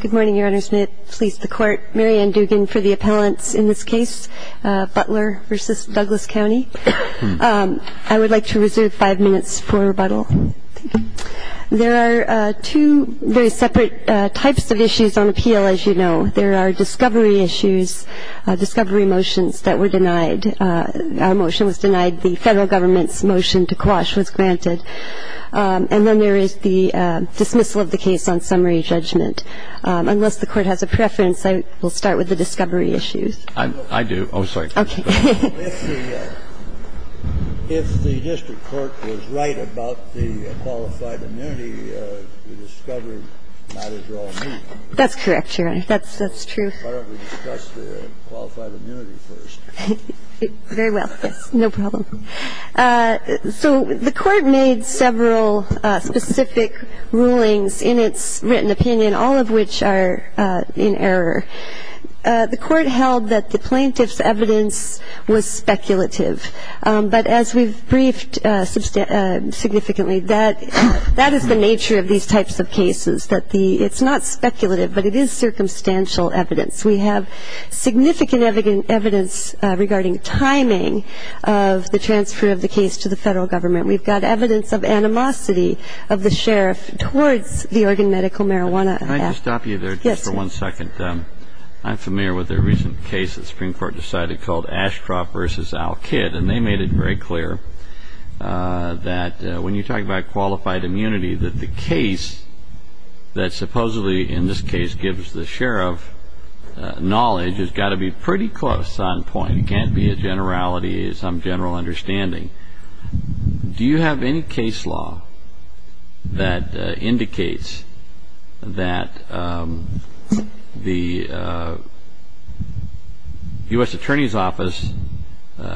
Good morning, Your Honors. May it please the Court. Mary Ann Dugan for the appellants in this case, Butler v. Douglas County. I would like to reserve five minutes for rebuttal. Thank you. There are two very separate types of issues on appeal, as you know. There are discovery issues, discovery motions that were denied. Our motion was denied. The Federal Government's motion to quash was granted. And then there is the dismissal of the case on summary judgment. Unless the Court has a preference, I will start with the discovery issues. I do. I'm sorry. Okay. If the district court was right about the qualified immunity, we discovered you might as well admit it. That's correct, Your Honor. That's true. Why don't we discuss the qualified immunity first? Very well. Yes. No problem. So the Court made several specific rulings in its written opinion, all of which are in error. The Court held that the plaintiff's evidence was speculative. But as we've briefed significantly, that is the nature of these types of cases, that it's not speculative, but it is circumstantial evidence. We have significant evidence regarding timing of the transfer of the case to the Federal Government. We've got evidence of animosity of the sheriff towards the Oregon Medical Marijuana Act. Can I just stop you there just for one second? Yes. I'm familiar with a recent case that the Supreme Court decided called Ashcroft v. Al Kidd, and they made it very clear that when you talk about qualified immunity, that the case that supposedly in this case gives the sheriff knowledge has got to be pretty close on point. It can't be a generality, some general understanding. Do you have any case law that indicates that the U.S. Attorney's Office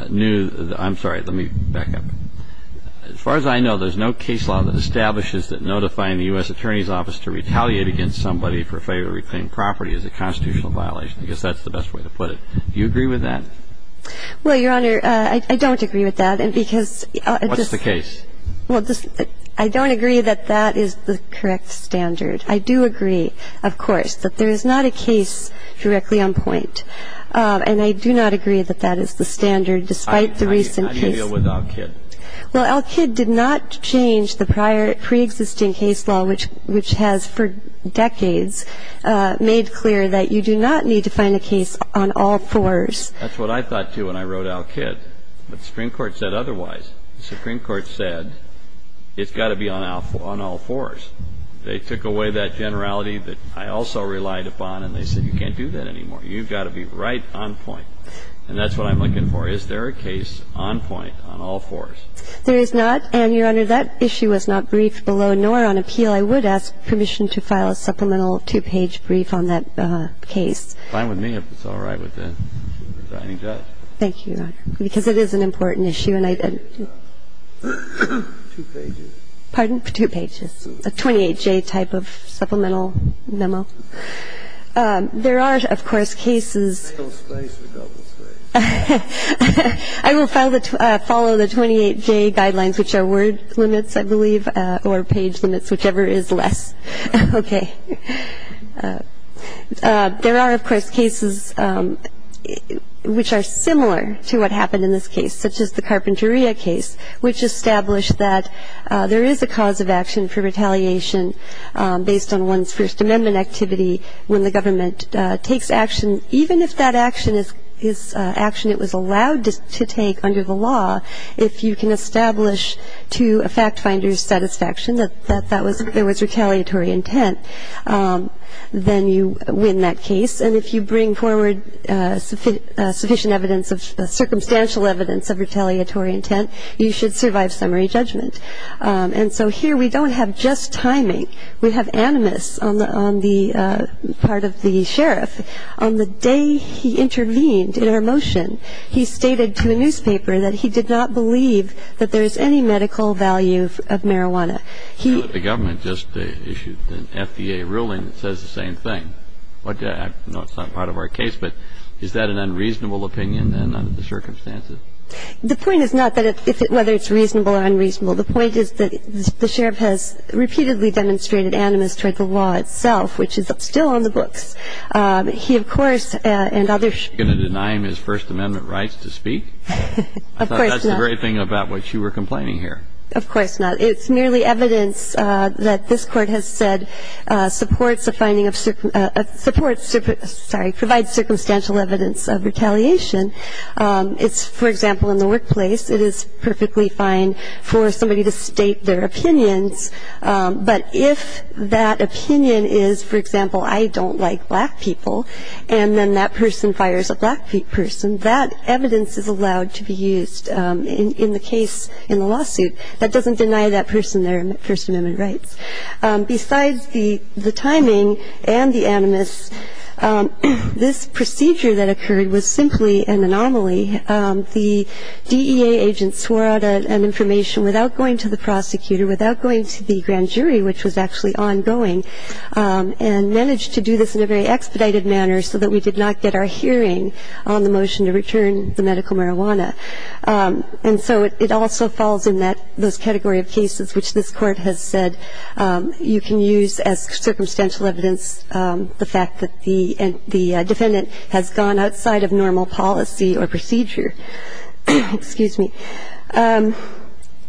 knew the – I'm sorry, let me back up. As far as I know, there's no case law that establishes that notifying the U.S. Attorney's Office to retaliate against somebody for failure to reclaim property is a constitutional violation. I guess that's the best way to put it. Do you agree with that? Well, Your Honor, I don't agree with that. What's the case? Well, I don't agree that that is the correct standard. I do agree, of course, that there is not a case directly on point, and I do not agree that that is the standard despite the recent case. How do you deal with Al Kidd? Well, Al Kidd did not change the prior preexisting case law, which has for decades made clear that you do not need to find a case on all fours. That's what I thought too when I wrote Al Kidd. But the Supreme Court said otherwise. The Supreme Court said it's got to be on all fours. They took away that generality that I also relied upon, and they said you can't do that anymore. You've got to be right on point. And that's what I'm looking for. Is there a case on point on all fours? There is not. And, Your Honor, that issue was not briefed below, nor on appeal. I would ask permission to file a supplemental two-page brief on that case. Fine with me if it's all right with the presiding judge. Thank you, Your Honor, because it is an important issue. Pardon? Two pages. A 28J type of supplemental memo. There are, of course, cases. I will follow the 28J guidelines, which are word limits, I believe, or page limits, whichever is less. Okay. There are, of course, cases which are similar to what happened in this case, such as the Carpinteria case, which established that there is a cause of action for retaliation based on one's First Amendment activity when the government takes action, even if that action is action it was allowed to take under the law, if you can establish to a fact finder's satisfaction that that was retaliatory intent, then you win that case. And if you bring forward sufficient evidence, circumstantial evidence of retaliatory intent, you should survive summary judgment. And so here we don't have just timing. We have animus on the part of the sheriff. On the day he intervened in our motion, he stated to a newspaper that he did not believe that there is any medical value of marijuana. The government just issued an FDA ruling that says the same thing. I know it's not part of our case, but is that an unreasonable opinion under the circumstances? The point is not whether it's reasonable or unreasonable. The point is that the sheriff has repeatedly demonstrated animus toward the law itself, which is still on the books. He, of course, and others ---- You're going to deny him his First Amendment rights to speak? Of course not. I thought that's the very thing about which you were complaining here. Of course not. It's merely evidence that this Court has said supports the finding of ---- supports, sorry, provides circumstantial evidence of retaliation. It's, for example, in the workplace. It is perfectly fine for somebody to state their opinions. But if that opinion is, for example, I don't like black people, and then that person fires a black person, that evidence is allowed to be used in the case in the lawsuit. That doesn't deny that person their First Amendment rights. Besides the timing and the animus, this procedure that occurred was simply an anomaly. The DEA agents swore out an information without going to the prosecutor, without going to the grand jury, which was actually ongoing, and managed to do this in a very expedited manner so that we did not get our hearing on the motion to return the medical marijuana. And so it also falls in that ---- those category of cases which this Court has said you can use as circumstantial evidence the fact that the defendant has gone outside of normal policy or procedure. Excuse me.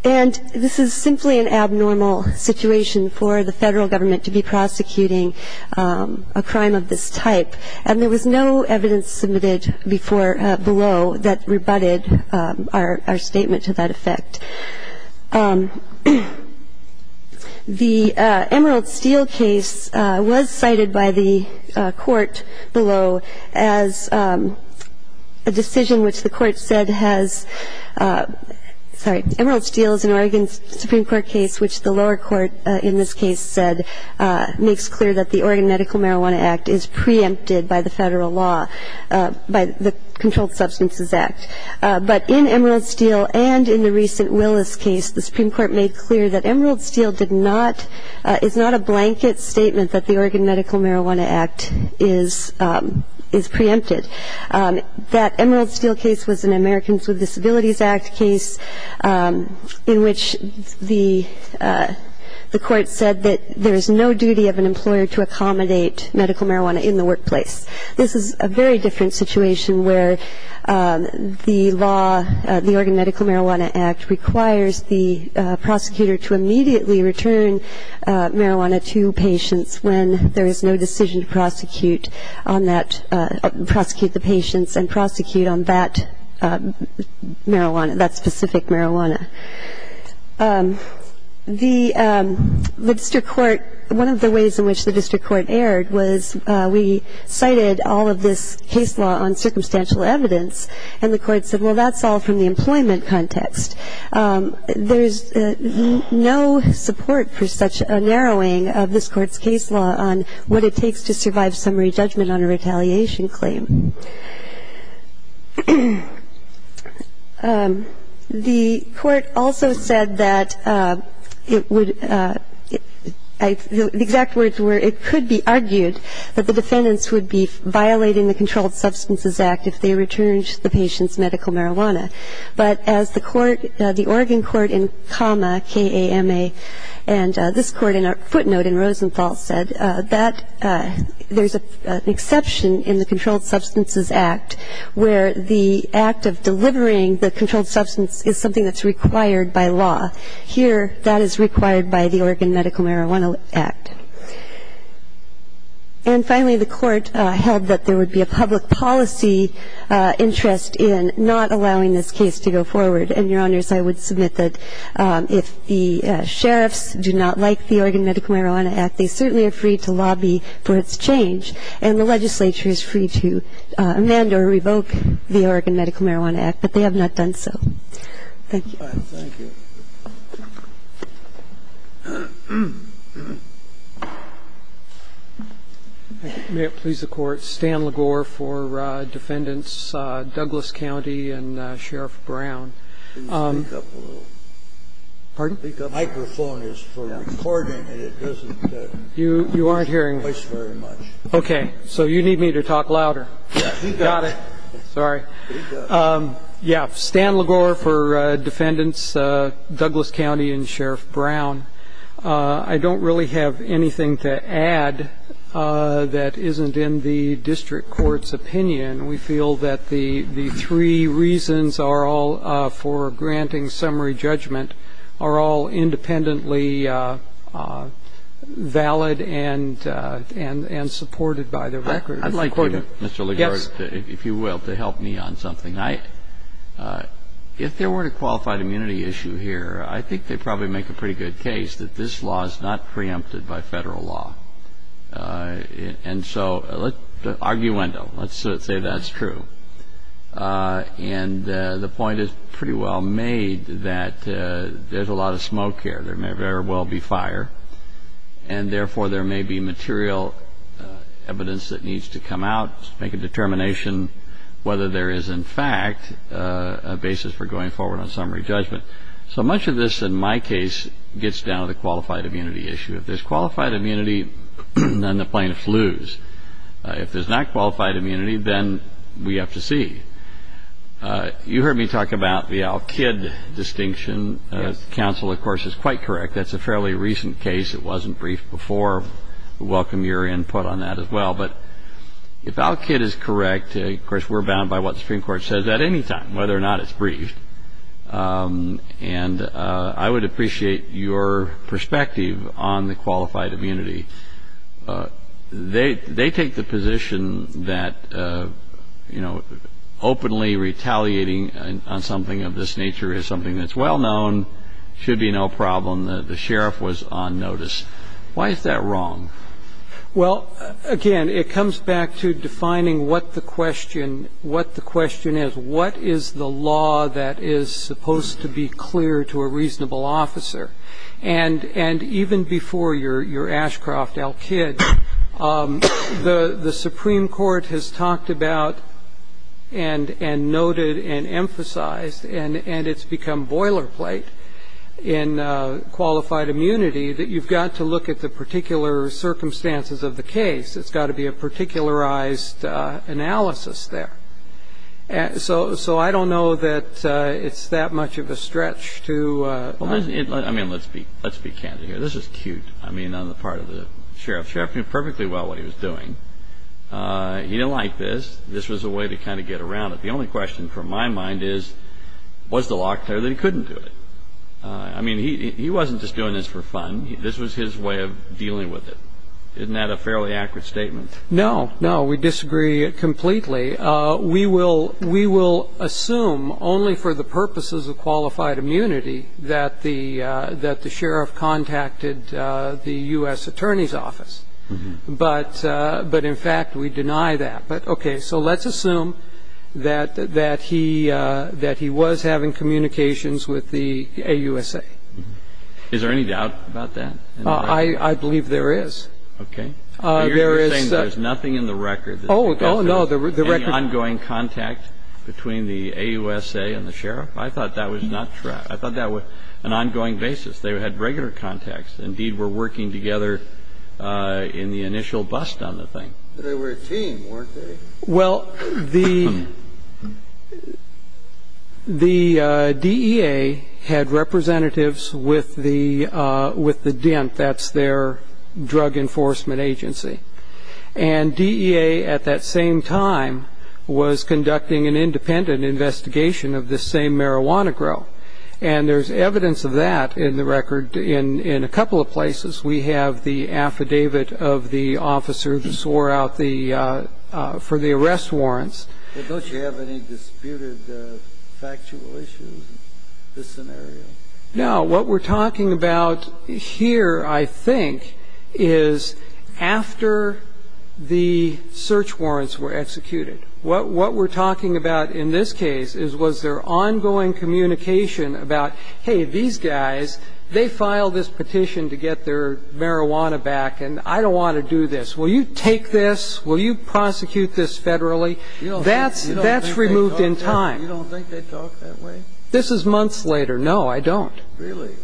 And this is simply an abnormal situation for the Federal Government to be prosecuting a crime of this type. And there was no evidence submitted before below that rebutted our statement to that effect. The Emerald Steel case was cited by the Court below as a decision which the Court said has ---- sorry, Emerald Steel is an Oregon Supreme Court case which the lower court in this case said makes clear that the Oregon Medical Marijuana Act is preempted by the Federal law, by the Controlled Substances Act. But in Emerald Steel and in the recent Willis case, the Supreme Court made clear that Emerald Steel did not ---- is not a blanket statement that the Oregon Medical Marijuana Act is preempted. That Emerald Steel case was an Americans with Disabilities Act case in which the Court said that there is no duty of an employer to accommodate medical marijuana in the workplace. This is a very different situation where the law, the Oregon Medical Marijuana Act, requires the prosecutor to immediately return marijuana to patients when there is no decision to prosecute on that ---- prosecute the patients and prosecute on that marijuana, that specific marijuana. The district court ---- one of the ways in which the district court erred was we cited all of this case law on circumstantial evidence, and the Court said, well, that's all from the employment context. There's no support for such a narrowing of this Court's case law on what it takes to survive summary judgment on a retaliation claim. The Court also said that it would ---- the exact words were, it could be argued that the defendants would be violating the Controlled Substances Act if they returned the patient's medical marijuana. But as the Court ---- the Oregon Court in Kama, K-A-M-A, and this Court in a footnote in Rosenthal said, that there's an exception in the Controlled Substances Act where the act of delivering the controlled substance is something that's required by law. Here, that is required by the Oregon Medical Marijuana Act. And finally, the Court held that there would be a public policy interest in not allowing this case to go forward. And, Your Honors, I would submit that if the sheriffs do not like the Oregon Medical Marijuana Act, they certainly are free to lobby for its change, and the legislature is free to amend or revoke the Oregon Medical Marijuana Act, but they have not done so. Thank you. Thank you. May it please the Court. Stan LaGore for defendants Douglas County and Sheriff Brown. Can you speak up a little? Pardon? The microphone is for recording, and it doesn't ---- You aren't hearing me. ---- voice very much. Okay. So you need me to talk louder. Yes. He does. Got it. Sorry. He does. Yeah. Stan LaGore for defendants Douglas County and Sheriff Brown. Douglas County and Sheriff Brown. I don't really have anything to add that isn't in the district court's opinion. We feel that the three reasons are all, for granting summary judgment, are all independently valid and supported by the record. I'd like to, Mr. LaGore, if you will, to help me on something. If there were a qualified immunity issue here, I think they'd probably make a pretty good case that this law is not preempted by federal law. And so let's arguendo. Let's say that's true. And the point is pretty well made that there's a lot of smoke here. There may very well be fire, and therefore there may be material evidence that needs to come out to make a determination whether there is, in fact, a basis for going forward on summary judgment. So much of this, in my case, gets down to the qualified immunity issue. If there's qualified immunity, then the plane flews. If there's not qualified immunity, then we have to see. You heard me talk about the Al-Kid distinction. The counsel, of course, is quite correct. That's a fairly recent case. It wasn't briefed before. We welcome your input on that as well. But if Al-Kid is correct, of course, we're bound by what the Supreme Court says at any time, whether or not it's briefed. And I would appreciate your perspective on the qualified immunity. They take the position that, you know, openly retaliating on something of this nature is something that's well known, should be no problem. The sheriff was on notice. Why is that wrong? Well, again, it comes back to defining what the question is. What is the law that is supposed to be clear to a reasonable officer? And even before your Ashcroft, Al-Kid, the Supreme Court has talked about and noted and emphasized, and it's become boilerplate in qualified immunity, that you've got to look at the particular circumstances of the case. It's got to be a particularized analysis there. So I don't know that it's that much of a stretch to ---- I mean, let's be candid here. This is cute, I mean, on the part of the sheriff. The sheriff knew perfectly well what he was doing. He didn't like this. This was a way to kind of get around it. The only question from my mind is, was the law clear that he couldn't do it? I mean, he wasn't just doing this for fun. This was his way of dealing with it. Isn't that a fairly accurate statement? No, no, we disagree completely. We will assume, only for the purposes of qualified immunity, that the sheriff contacted the U.S. Attorney's Office. But, in fact, we deny that. But, okay, so let's assume that he was having communications with the AUSA. Is there any doubt about that? I believe there is. Okay. You're saying there's nothing in the record. Oh, no. Any ongoing contact between the AUSA and the sheriff? I thought that was not true. I thought that was an ongoing basis. They had regular contacts. Indeed, we're working together in the initial bust on the thing. But they were a team, weren't they? Well, the DEA had representatives with the DENT. That's their drug enforcement agency. And DEA, at that same time, was conducting an independent investigation of this same marijuana grow. And there's evidence of that in the record in a couple of places. We have the affidavit of the officer who swore out the ‑‑ for the arrest warrants. Well, don't you have any disputed factual issues in this scenario? No. What we're talking about here, I think, is after the search warrants were executed. What we're talking about in this case is was there ongoing communication about, hey, these guys, they filed this petition to get their marijuana back, and I don't want to do this. Will you take this? Will you prosecute this federally? That's removed in time. You don't think they talk that way? This is months later. No, I don't. Really?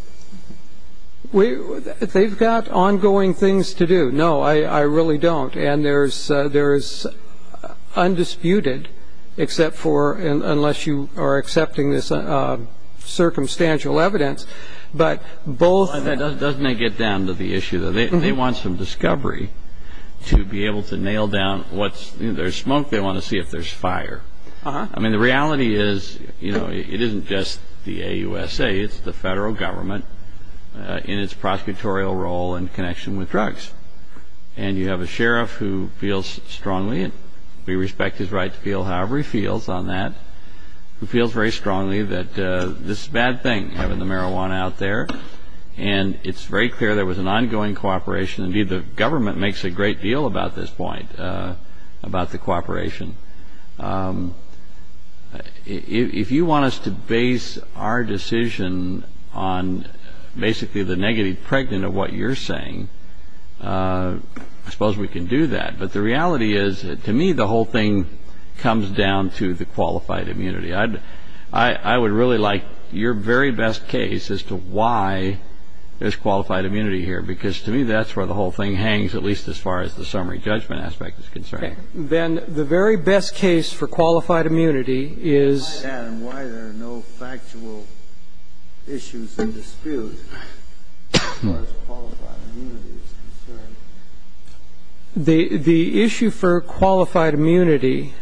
They've got ongoing things to do. No, I really don't. And there is undisputed, unless you are accepting this circumstantial evidence, but both ‑‑ Doesn't that get down to the issue that they want some discovery to be able to nail down what's ‑‑ there's smoke, they want to see if there's fire. I mean, the reality is, you know, it isn't just the AUSA. It's the federal government in its prosecutorial role in connection with drugs. And you have a sheriff who feels strongly, and we respect his right to feel however he feels on that, who feels very strongly that this is a bad thing, having the marijuana out there. And it's very clear there was an ongoing cooperation. Indeed, the government makes a great deal about this point, about the cooperation. If you want us to base our decision on basically the negative pregnant of what you're saying, I suppose we can do that. But the reality is, to me, the whole thing comes down to the qualified immunity. I would really like your very best case as to why there's qualified immunity here, because to me that's where the whole thing hangs, at least as far as the summary judgment aspect is concerned. Okay. Then the very best case for qualified immunity is... Why that and why there are no factual issues and disputes as far as qualified immunity is concerned. The issue for qualified immunity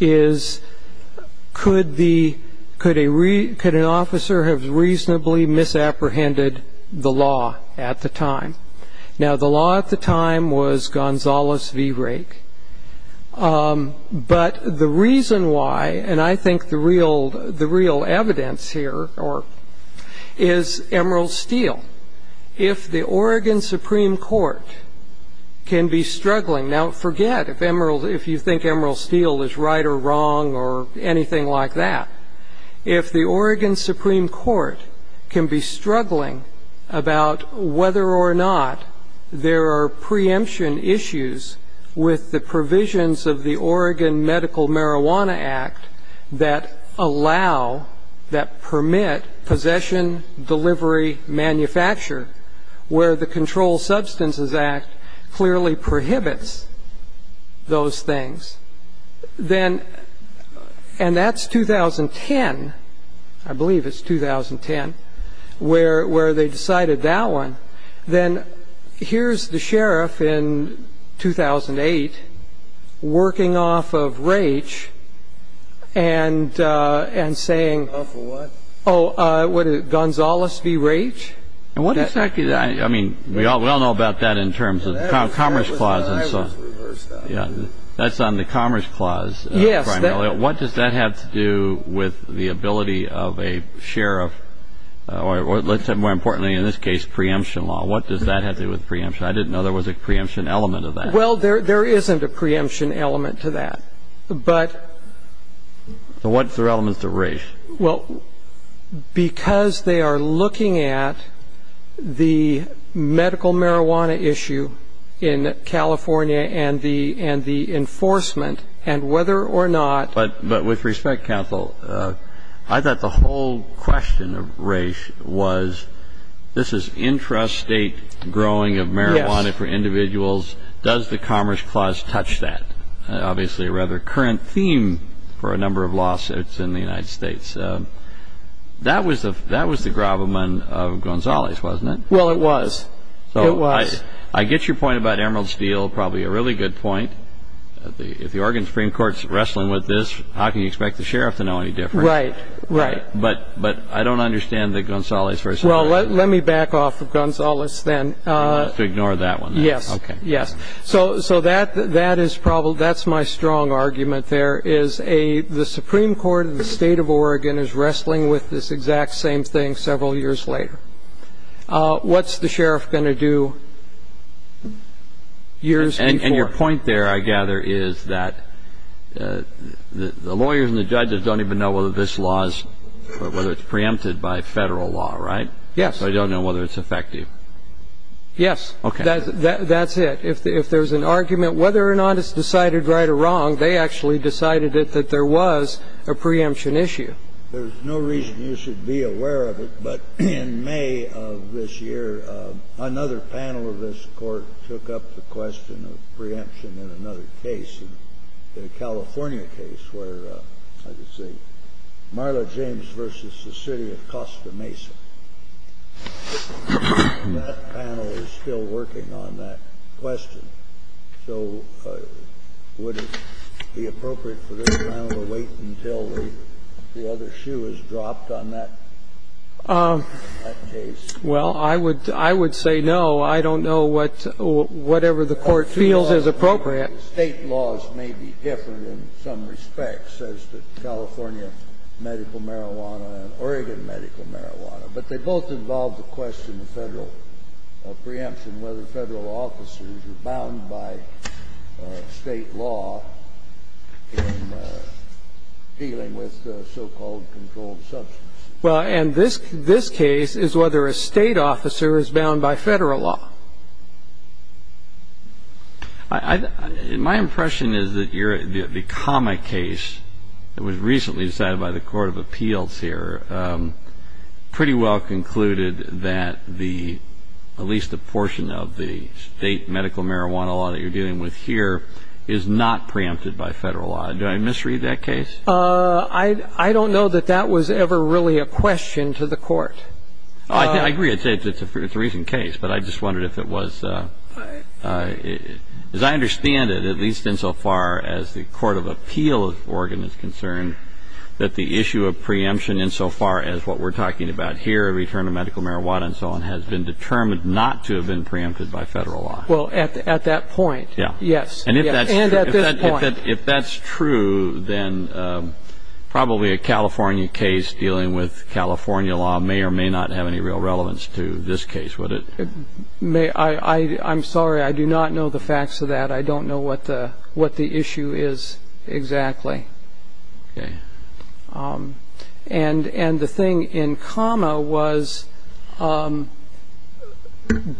is, could an officer have reasonably misapprehended the law at the time? Now, the law at the time was Gonzales v. Rake. But the reason why, and I think the real evidence here is Emerald Steele. If the Oregon Supreme Court can be struggling... Now, forget if you think Emerald Steele is right or wrong or anything like that. If the Oregon Supreme Court can be struggling about whether or not there are preemption issues with the provisions of the Oregon Medical Marijuana Act that allow, that permit, possession, delivery, manufacture, where the Controlled Substances Act clearly prohibits those things, then, and that's 2010, I believe it's 2010, where they decided that one, then here's the sheriff in 2008 working off of Rake and saying... Off of what? Oh, what is it, Gonzales v. Rake? And what exactly... I mean, we all know about that in terms of the Commerce Clause and so on. Yeah, that's on the Commerce Clause primarily. What does that have to do with the ability of a sheriff, or let's say more importantly in this case, preemption law? What does that have to do with preemption? I didn't know there was a preemption element of that. Well, there isn't a preemption element to that. But... So what are the elements of Rake? Well, because they are looking at the medical marijuana issue in California and the enforcement, and whether or not... But with respect, counsel, I thought the whole question of Rake was, this is intrastate growing of marijuana for individuals, does the Commerce Clause touch that? Obviously, a rather current theme for a number of lawsuits in the United States. That was the gravamen of Gonzales, wasn't it? Well, it was. It was. I get your point about Emerald Steele, probably a really good point. If the Oregon Supreme Court is wrestling with this, how can you expect the sheriff to know any different? Right, right. But I don't understand the Gonzales v. Emerald Steele... Well, let me back off of Gonzales then. You have to ignore that one. Yes, yes. So that is my strong argument there, is the Supreme Court of the state of Oregon is wrestling with this exact same thing several years later. What's the sheriff going to do years before? And your point there, I gather, is that the lawyers and the judges don't even know whether this law is... whether it's preempted by federal law, right? Yes. So they don't know whether it's effective. Yes. Okay. That's it. If there's an argument whether or not it's decided right or wrong, they actually decided that there was a preemption issue. There's no reason you should be aware of it, but in May of this year, another panel of this Court took up the question of preemption in another case, in a California case where, I could say, Marla James v. The City of Costa Mesa. That panel is still working on that question. So would it be appropriate for this panel to wait until the other shoe is dropped on that case? Well, I would say no. I don't know whatever the Court feels is appropriate. The State laws may be different in some respects as to California medical marijuana and Oregon medical marijuana, but they both involve the question of federal preemption, whether federal officers are bound by State law in dealing with so-called controlled substances. Well, and this case is whether a State officer is bound by Federal law. My impression is that the comma case that was recently decided by the Court of Appeals here pretty well concluded that at least a portion of the State medical marijuana law that you're dealing with here is not preempted by Federal law. Do I misread that case? I don't know that that was ever really a question to the Court. I agree. It's a recent case, but I just wondered if it was. As I understand it, at least insofar as the Court of Appeals of Oregon is concerned, that the issue of preemption insofar as what we're talking about here, return of medical marijuana and so on, has been determined not to have been preempted by Federal law. Well, at that point, yes. And at this point. If that's true, then probably a California case dealing with California law may or may not have any real relevance to this case, would it? I'm sorry. I do not know the facts of that. I don't know what the issue is exactly. Okay. And the thing in comma was,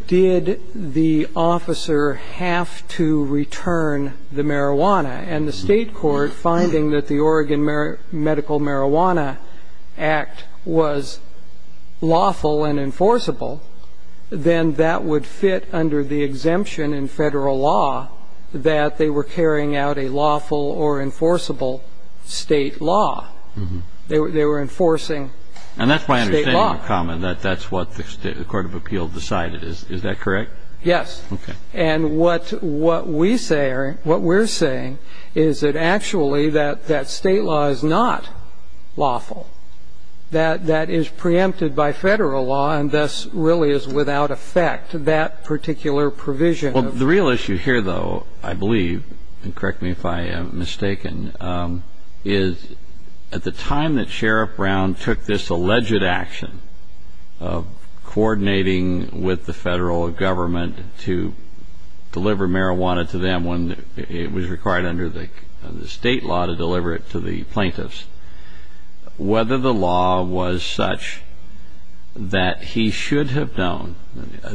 did the officer have to return the marijuana? And the State court, finding that the Oregon Medical Marijuana Act was lawful and enforceable, then that would fit under the exemption in Federal law that they were carrying out a lawful or enforceable State law. They were enforcing State law. And that's my understanding of comma, that that's what the Court of Appeals decided. Is that correct? Yes. Okay. And what we're saying is that actually that State law is not lawful, that that is preempted by Federal law and thus really is without effect, that particular provision. Well, the real issue here, though, I believe, and correct me if I am mistaken, is at the time that Sheriff Brown took this alleged action of coordinating with the Federal government to deliver marijuana to them when it was required under the State law to deliver it to the plaintiffs, whether the law was such that he should have known,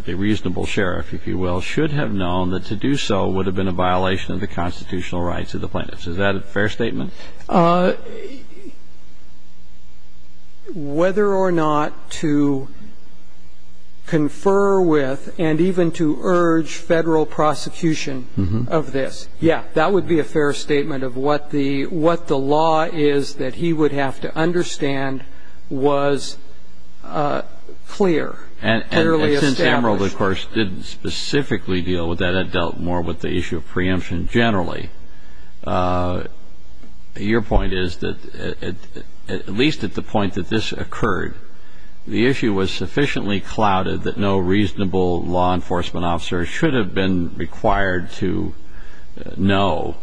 the reasonable sheriff, if you will, should have known that to do so would have been a violation of the constitutional rights of the plaintiffs. Is that a fair statement? Whether or not to confer with and even to urge Federal prosecution of this, yeah, that would be a fair statement of what the law is that he would have to understand was clear, clearly established. And since Emerald, of course, didn't specifically deal with that, had dealt more with the issue of preemption generally, your point is that at least at the point that this occurred, the issue was sufficiently clouded that no reasonable law enforcement officer should have been required to know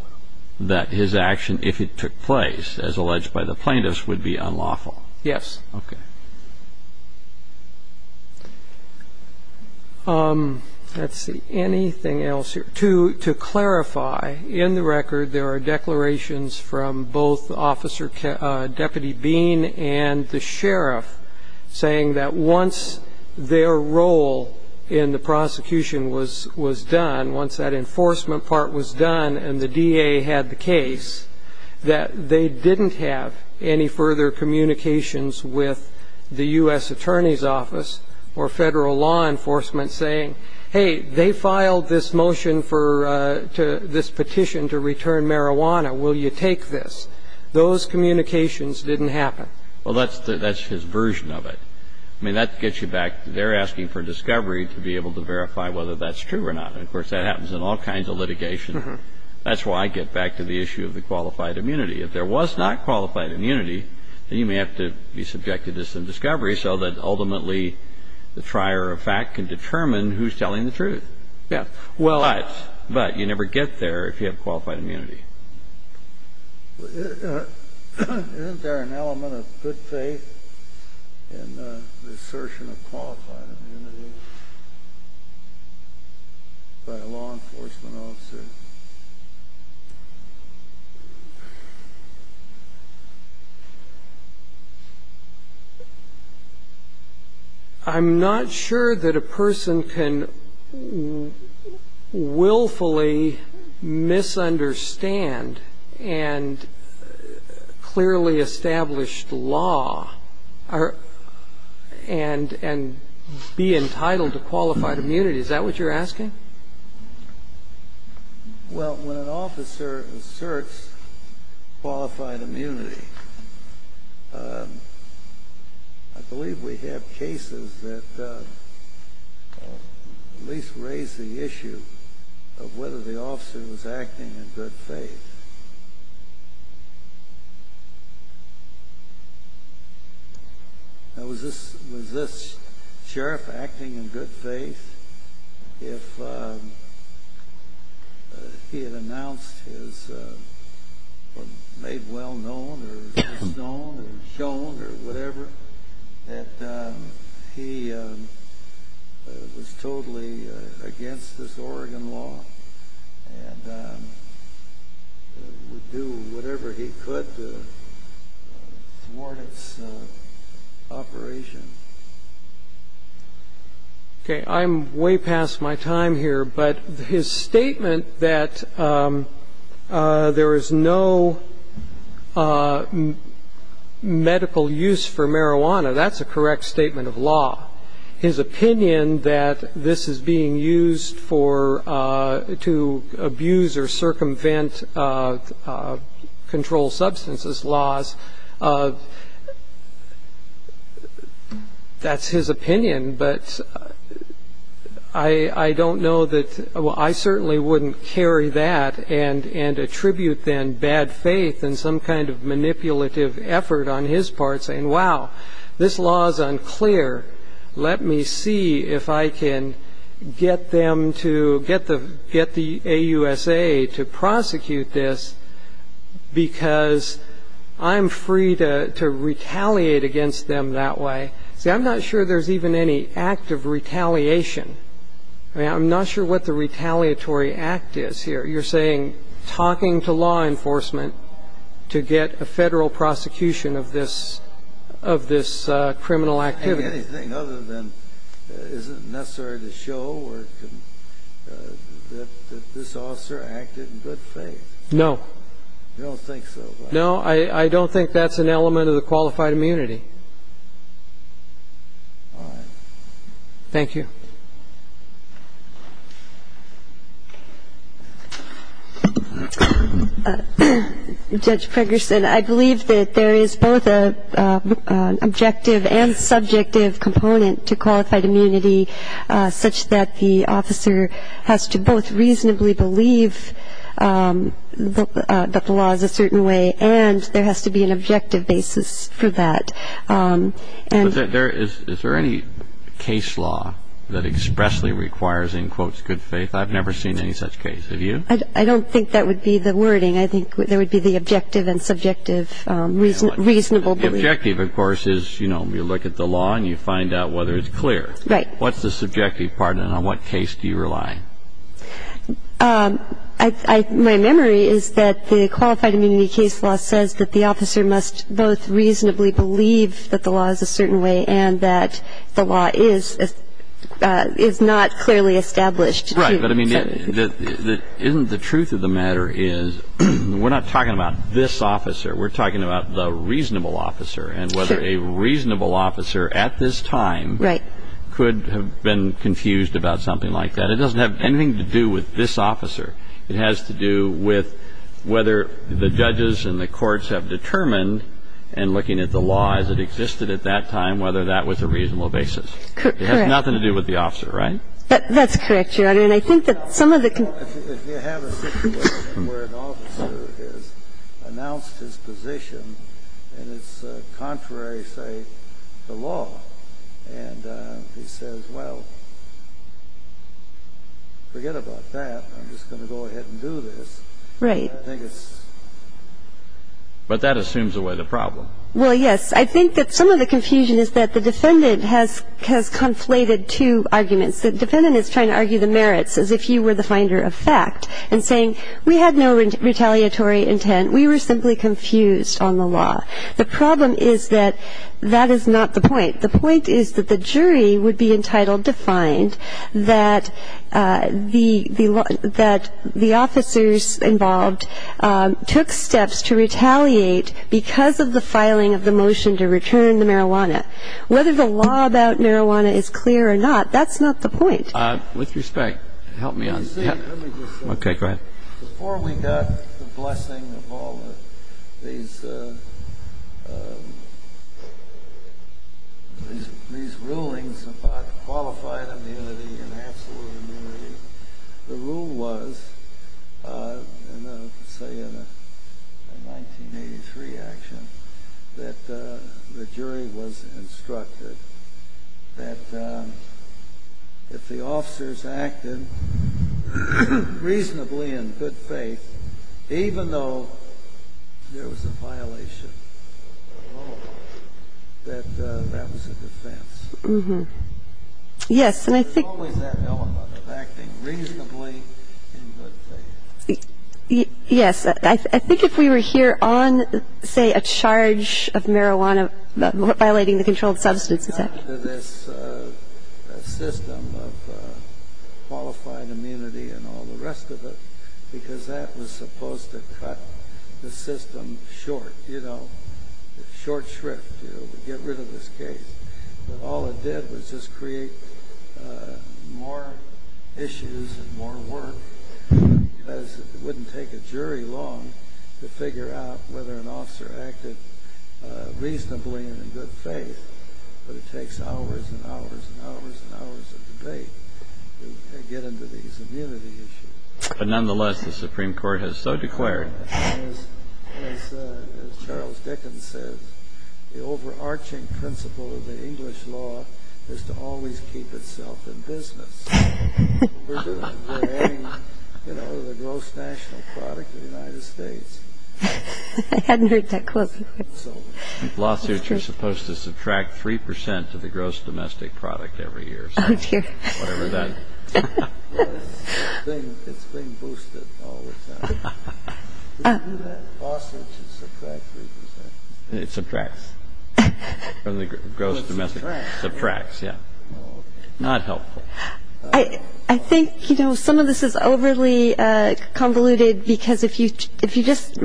that his action, if it took place, as alleged by the plaintiffs, would be unlawful. Yes. Okay. Let's see. Anything else here? To clarify, in the record there are declarations from both Officer Deputy Bean and the sheriff saying that once their role in the prosecution was done, once that enforcement part was done and the DA had the case, that they didn't have any further communications with the U.S. Attorney's Office or Federal law enforcement saying, hey, they filed this motion for this petition to return marijuana. Will you take this? Those communications didn't happen. Well, that's his version of it. I mean, that gets you back to they're asking for discovery to be able to verify whether that's true or not. And, of course, that happens in all kinds of litigation. That's why I get back to the issue of the qualified immunity. If there was not qualified immunity, then you may have to be subjected to some discovery so that ultimately the trier of fact can determine who's telling the truth. Yes. But you never get there if you have qualified immunity. Isn't there an element of good faith in the assertion of qualified immunity by law enforcement officers? I'm not sure that a person can willfully misunderstand and clearly establish the law and be entitled to qualified immunity. Well, when an officer asserts qualified immunity, I believe we have cases that at least raise the issue of whether the officer was acting in good faith. Now, was this sheriff acting in good faith if he had announced his made well known or his known or his shown or whatever, that he was totally against this Oregon law? And would do whatever he could to thwart its operation? Okay. I'm way past my time here. But his statement that there is no medical use for marijuana, that's a correct statement of law. His opinion that this is being used to abuse or circumvent controlled substances laws, that's his opinion, but I don't know that I certainly wouldn't carry that and attribute then bad faith and some kind of manipulative effort on his part saying, wow, this law is unclear. Let me see if I can get the AUSA to prosecute this because I'm free to retaliate against them that way. See, I'm not sure there's even any act of retaliation. I'm not sure what the retaliatory act is here. You're saying talking to law enforcement to get a federal prosecution of this criminal activity. Anything other than isn't necessary to show that this officer acted in good faith. No. I don't think so. No, I don't think that's an element of the qualified immunity. All right. Thank you. Judge Ferguson, I believe that there is both an objective and subjective component to qualified immunity such that the officer has to both reasonably believe that the law is a certain way and there has to be an objective basis for that. Is there any case law that expressly requires, in quotes, good faith? I've never seen any such case. Have you? I don't think that would be the wording. I think there would be the objective and subjective reasonable belief. The objective, of course, is, you know, you look at the law and you find out whether it's clear. Right. What's the subjective part and on what case do you rely? My memory is that the qualified immunity case law says that the officer must both reasonably believe that the law is a certain way and that the law is not clearly established. Right. But, I mean, isn't the truth of the matter is we're not talking about this officer. We're talking about the reasonable officer and whether a reasonable officer at this time could have been confused about something like that. It doesn't have anything to do with this officer. It has to do with whether the judges and the courts have determined, and looking at the law as it existed at that time, whether that was a reasonable basis. Correct. It has nothing to do with the officer, right? That's correct, Your Honor. And I think that some of the confusion... If you have a situation where an officer has announced his position and it's contrary, say, to law, and he says, well, forget about that. I'm just going to go ahead and do this. Right. I think it's... But that assumes away the problem. Well, yes. I think that some of the confusion is that the defendant has conflated two arguments. The defendant is trying to argue the merits as if you were the finder of fact and saying, we had no retaliatory intent. We were simply confused on the law. The problem is that that is not the point. The point is that the jury would be entitled to find that the officers involved took steps to retaliate because of the filing of the motion to return the marijuana. Whether the law about marijuana is clear or not, that's not the point. With respect, help me out. Let me just say... Okay, go ahead. Before we got the blessing of all these rulings about qualified immunity and absolute immunity, the rule was, say, in a 1983 action, that the jury was instructed that if the officers acted reasonably in good faith, even though there was a violation of the law, that that was a defense. Yes. Yes, and I think... There's always that element of acting reasonably in good faith. Yes. I think if we were here on, say, a charge of marijuana violating the controlled substance... It's up to this system of qualified immunity and all the rest of it, because that was supposed to cut the system short, you know, short shrift, get rid of this case. But all it did was just create more issues and more work, because it wouldn't take a jury long to figure out whether an officer acted reasonably and in good faith. But it takes hours and hours and hours and hours of debate to get into these immunity issues. But nonetheless, the Supreme Court has so declared... As Charles Dickens says, the overarching principle of the English law is to always keep itself in business. We're adding, you know, the gross national product of the United States. I hadn't heard that quote. So lawsuits are supposed to subtract 3% of the gross domestic product every year. Oh, dear. Whatever that... It's being boosted all the time. Lawsuits should subtract 3%. It subtracts from the gross domestic. It subtracts. Subtracts, yeah. Not helpful. I think, you know, some of this is overly convoluted, because if you just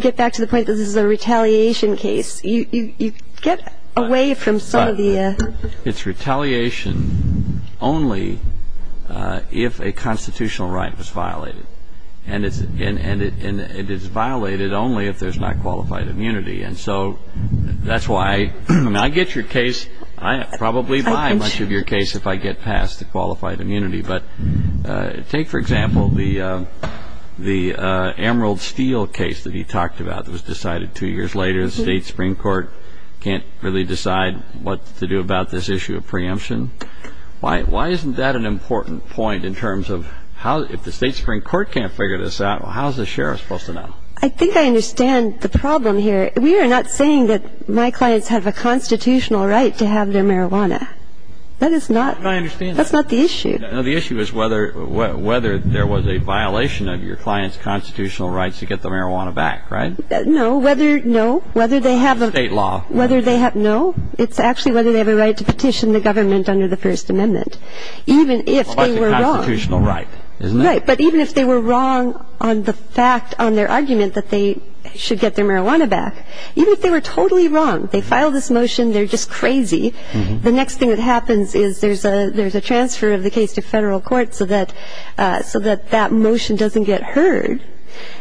get back to the point that this is a retaliation case, you get away from some of the... It's retaliation only if a constitutional right was violated. And it is violated only if there's not qualified immunity. And so that's why... I mean, I get your case. I probably buy much of your case if I get past the qualified immunity. But take, for example, the Emerald Steel case that he talked about that was decided two years later. The state Supreme Court can't really decide what to do about this issue of preemption. Why isn't that an important point in terms of how... If the state Supreme Court can't figure this out, how is the sheriff supposed to know? I think I understand the problem here. We are not saying that my clients have a constitutional right to have their marijuana. That is not... I understand that. That's not the issue. No, the issue is whether there was a violation of your client's constitutional rights to get the marijuana back, right? No. Whether... No. Whether they have a... State law. Whether they have... No. It's actually whether they have a right to petition the government under the First Amendment. Even if they were wrong... Well, that's a constitutional right, isn't it? Right. But even if they were wrong on the fact, on their argument that they should get their marijuana back, even if they were totally wrong, they filed this motion, they're just crazy, the next thing that happens is there's a transfer of the case to federal court so that that motion doesn't get heard.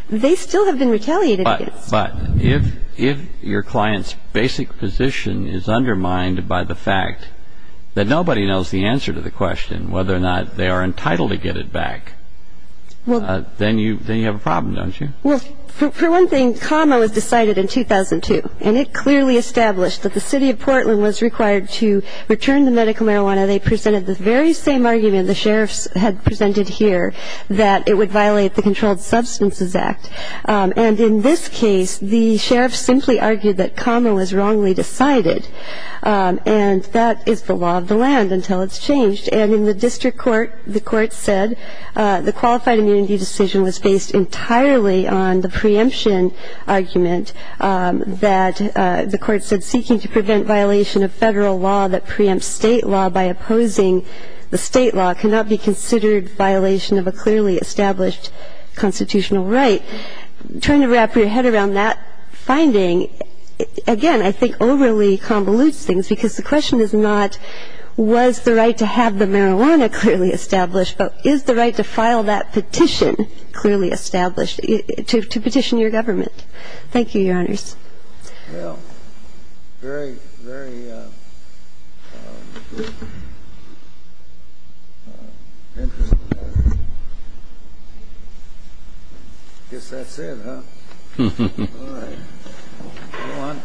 They still have been retaliated against. But if your client's basic position is undermined by the fact that nobody knows the answer to the question, whether or not they are entitled to get it back, then you have a problem, don't you? Well, for one thing, CAMA was decided in 2002, and it clearly established that the city of Portland was required to return the medical marijuana. They presented the very same argument the sheriffs had presented here, that it would violate the Controlled Substances Act. And in this case, the sheriffs simply argued that CAMA was wrongly decided, and that is the law of the land until it's changed. And in the district court, the court said the qualified immunity decision was based entirely on the preemption argument that the court said seeking to prevent violation of federal law that preempts state law by opposing the state law cannot be considered violation of a clearly established constitutional right. Trying to wrap your head around that finding, again, I think overly convolutes things, because the question is not was the right to have the marijuana clearly established, but is the right to file that petition clearly established, to petition your government. Thank you, Your Honors. Well, very, very interesting matter. I guess that's it, huh? All right. Go on.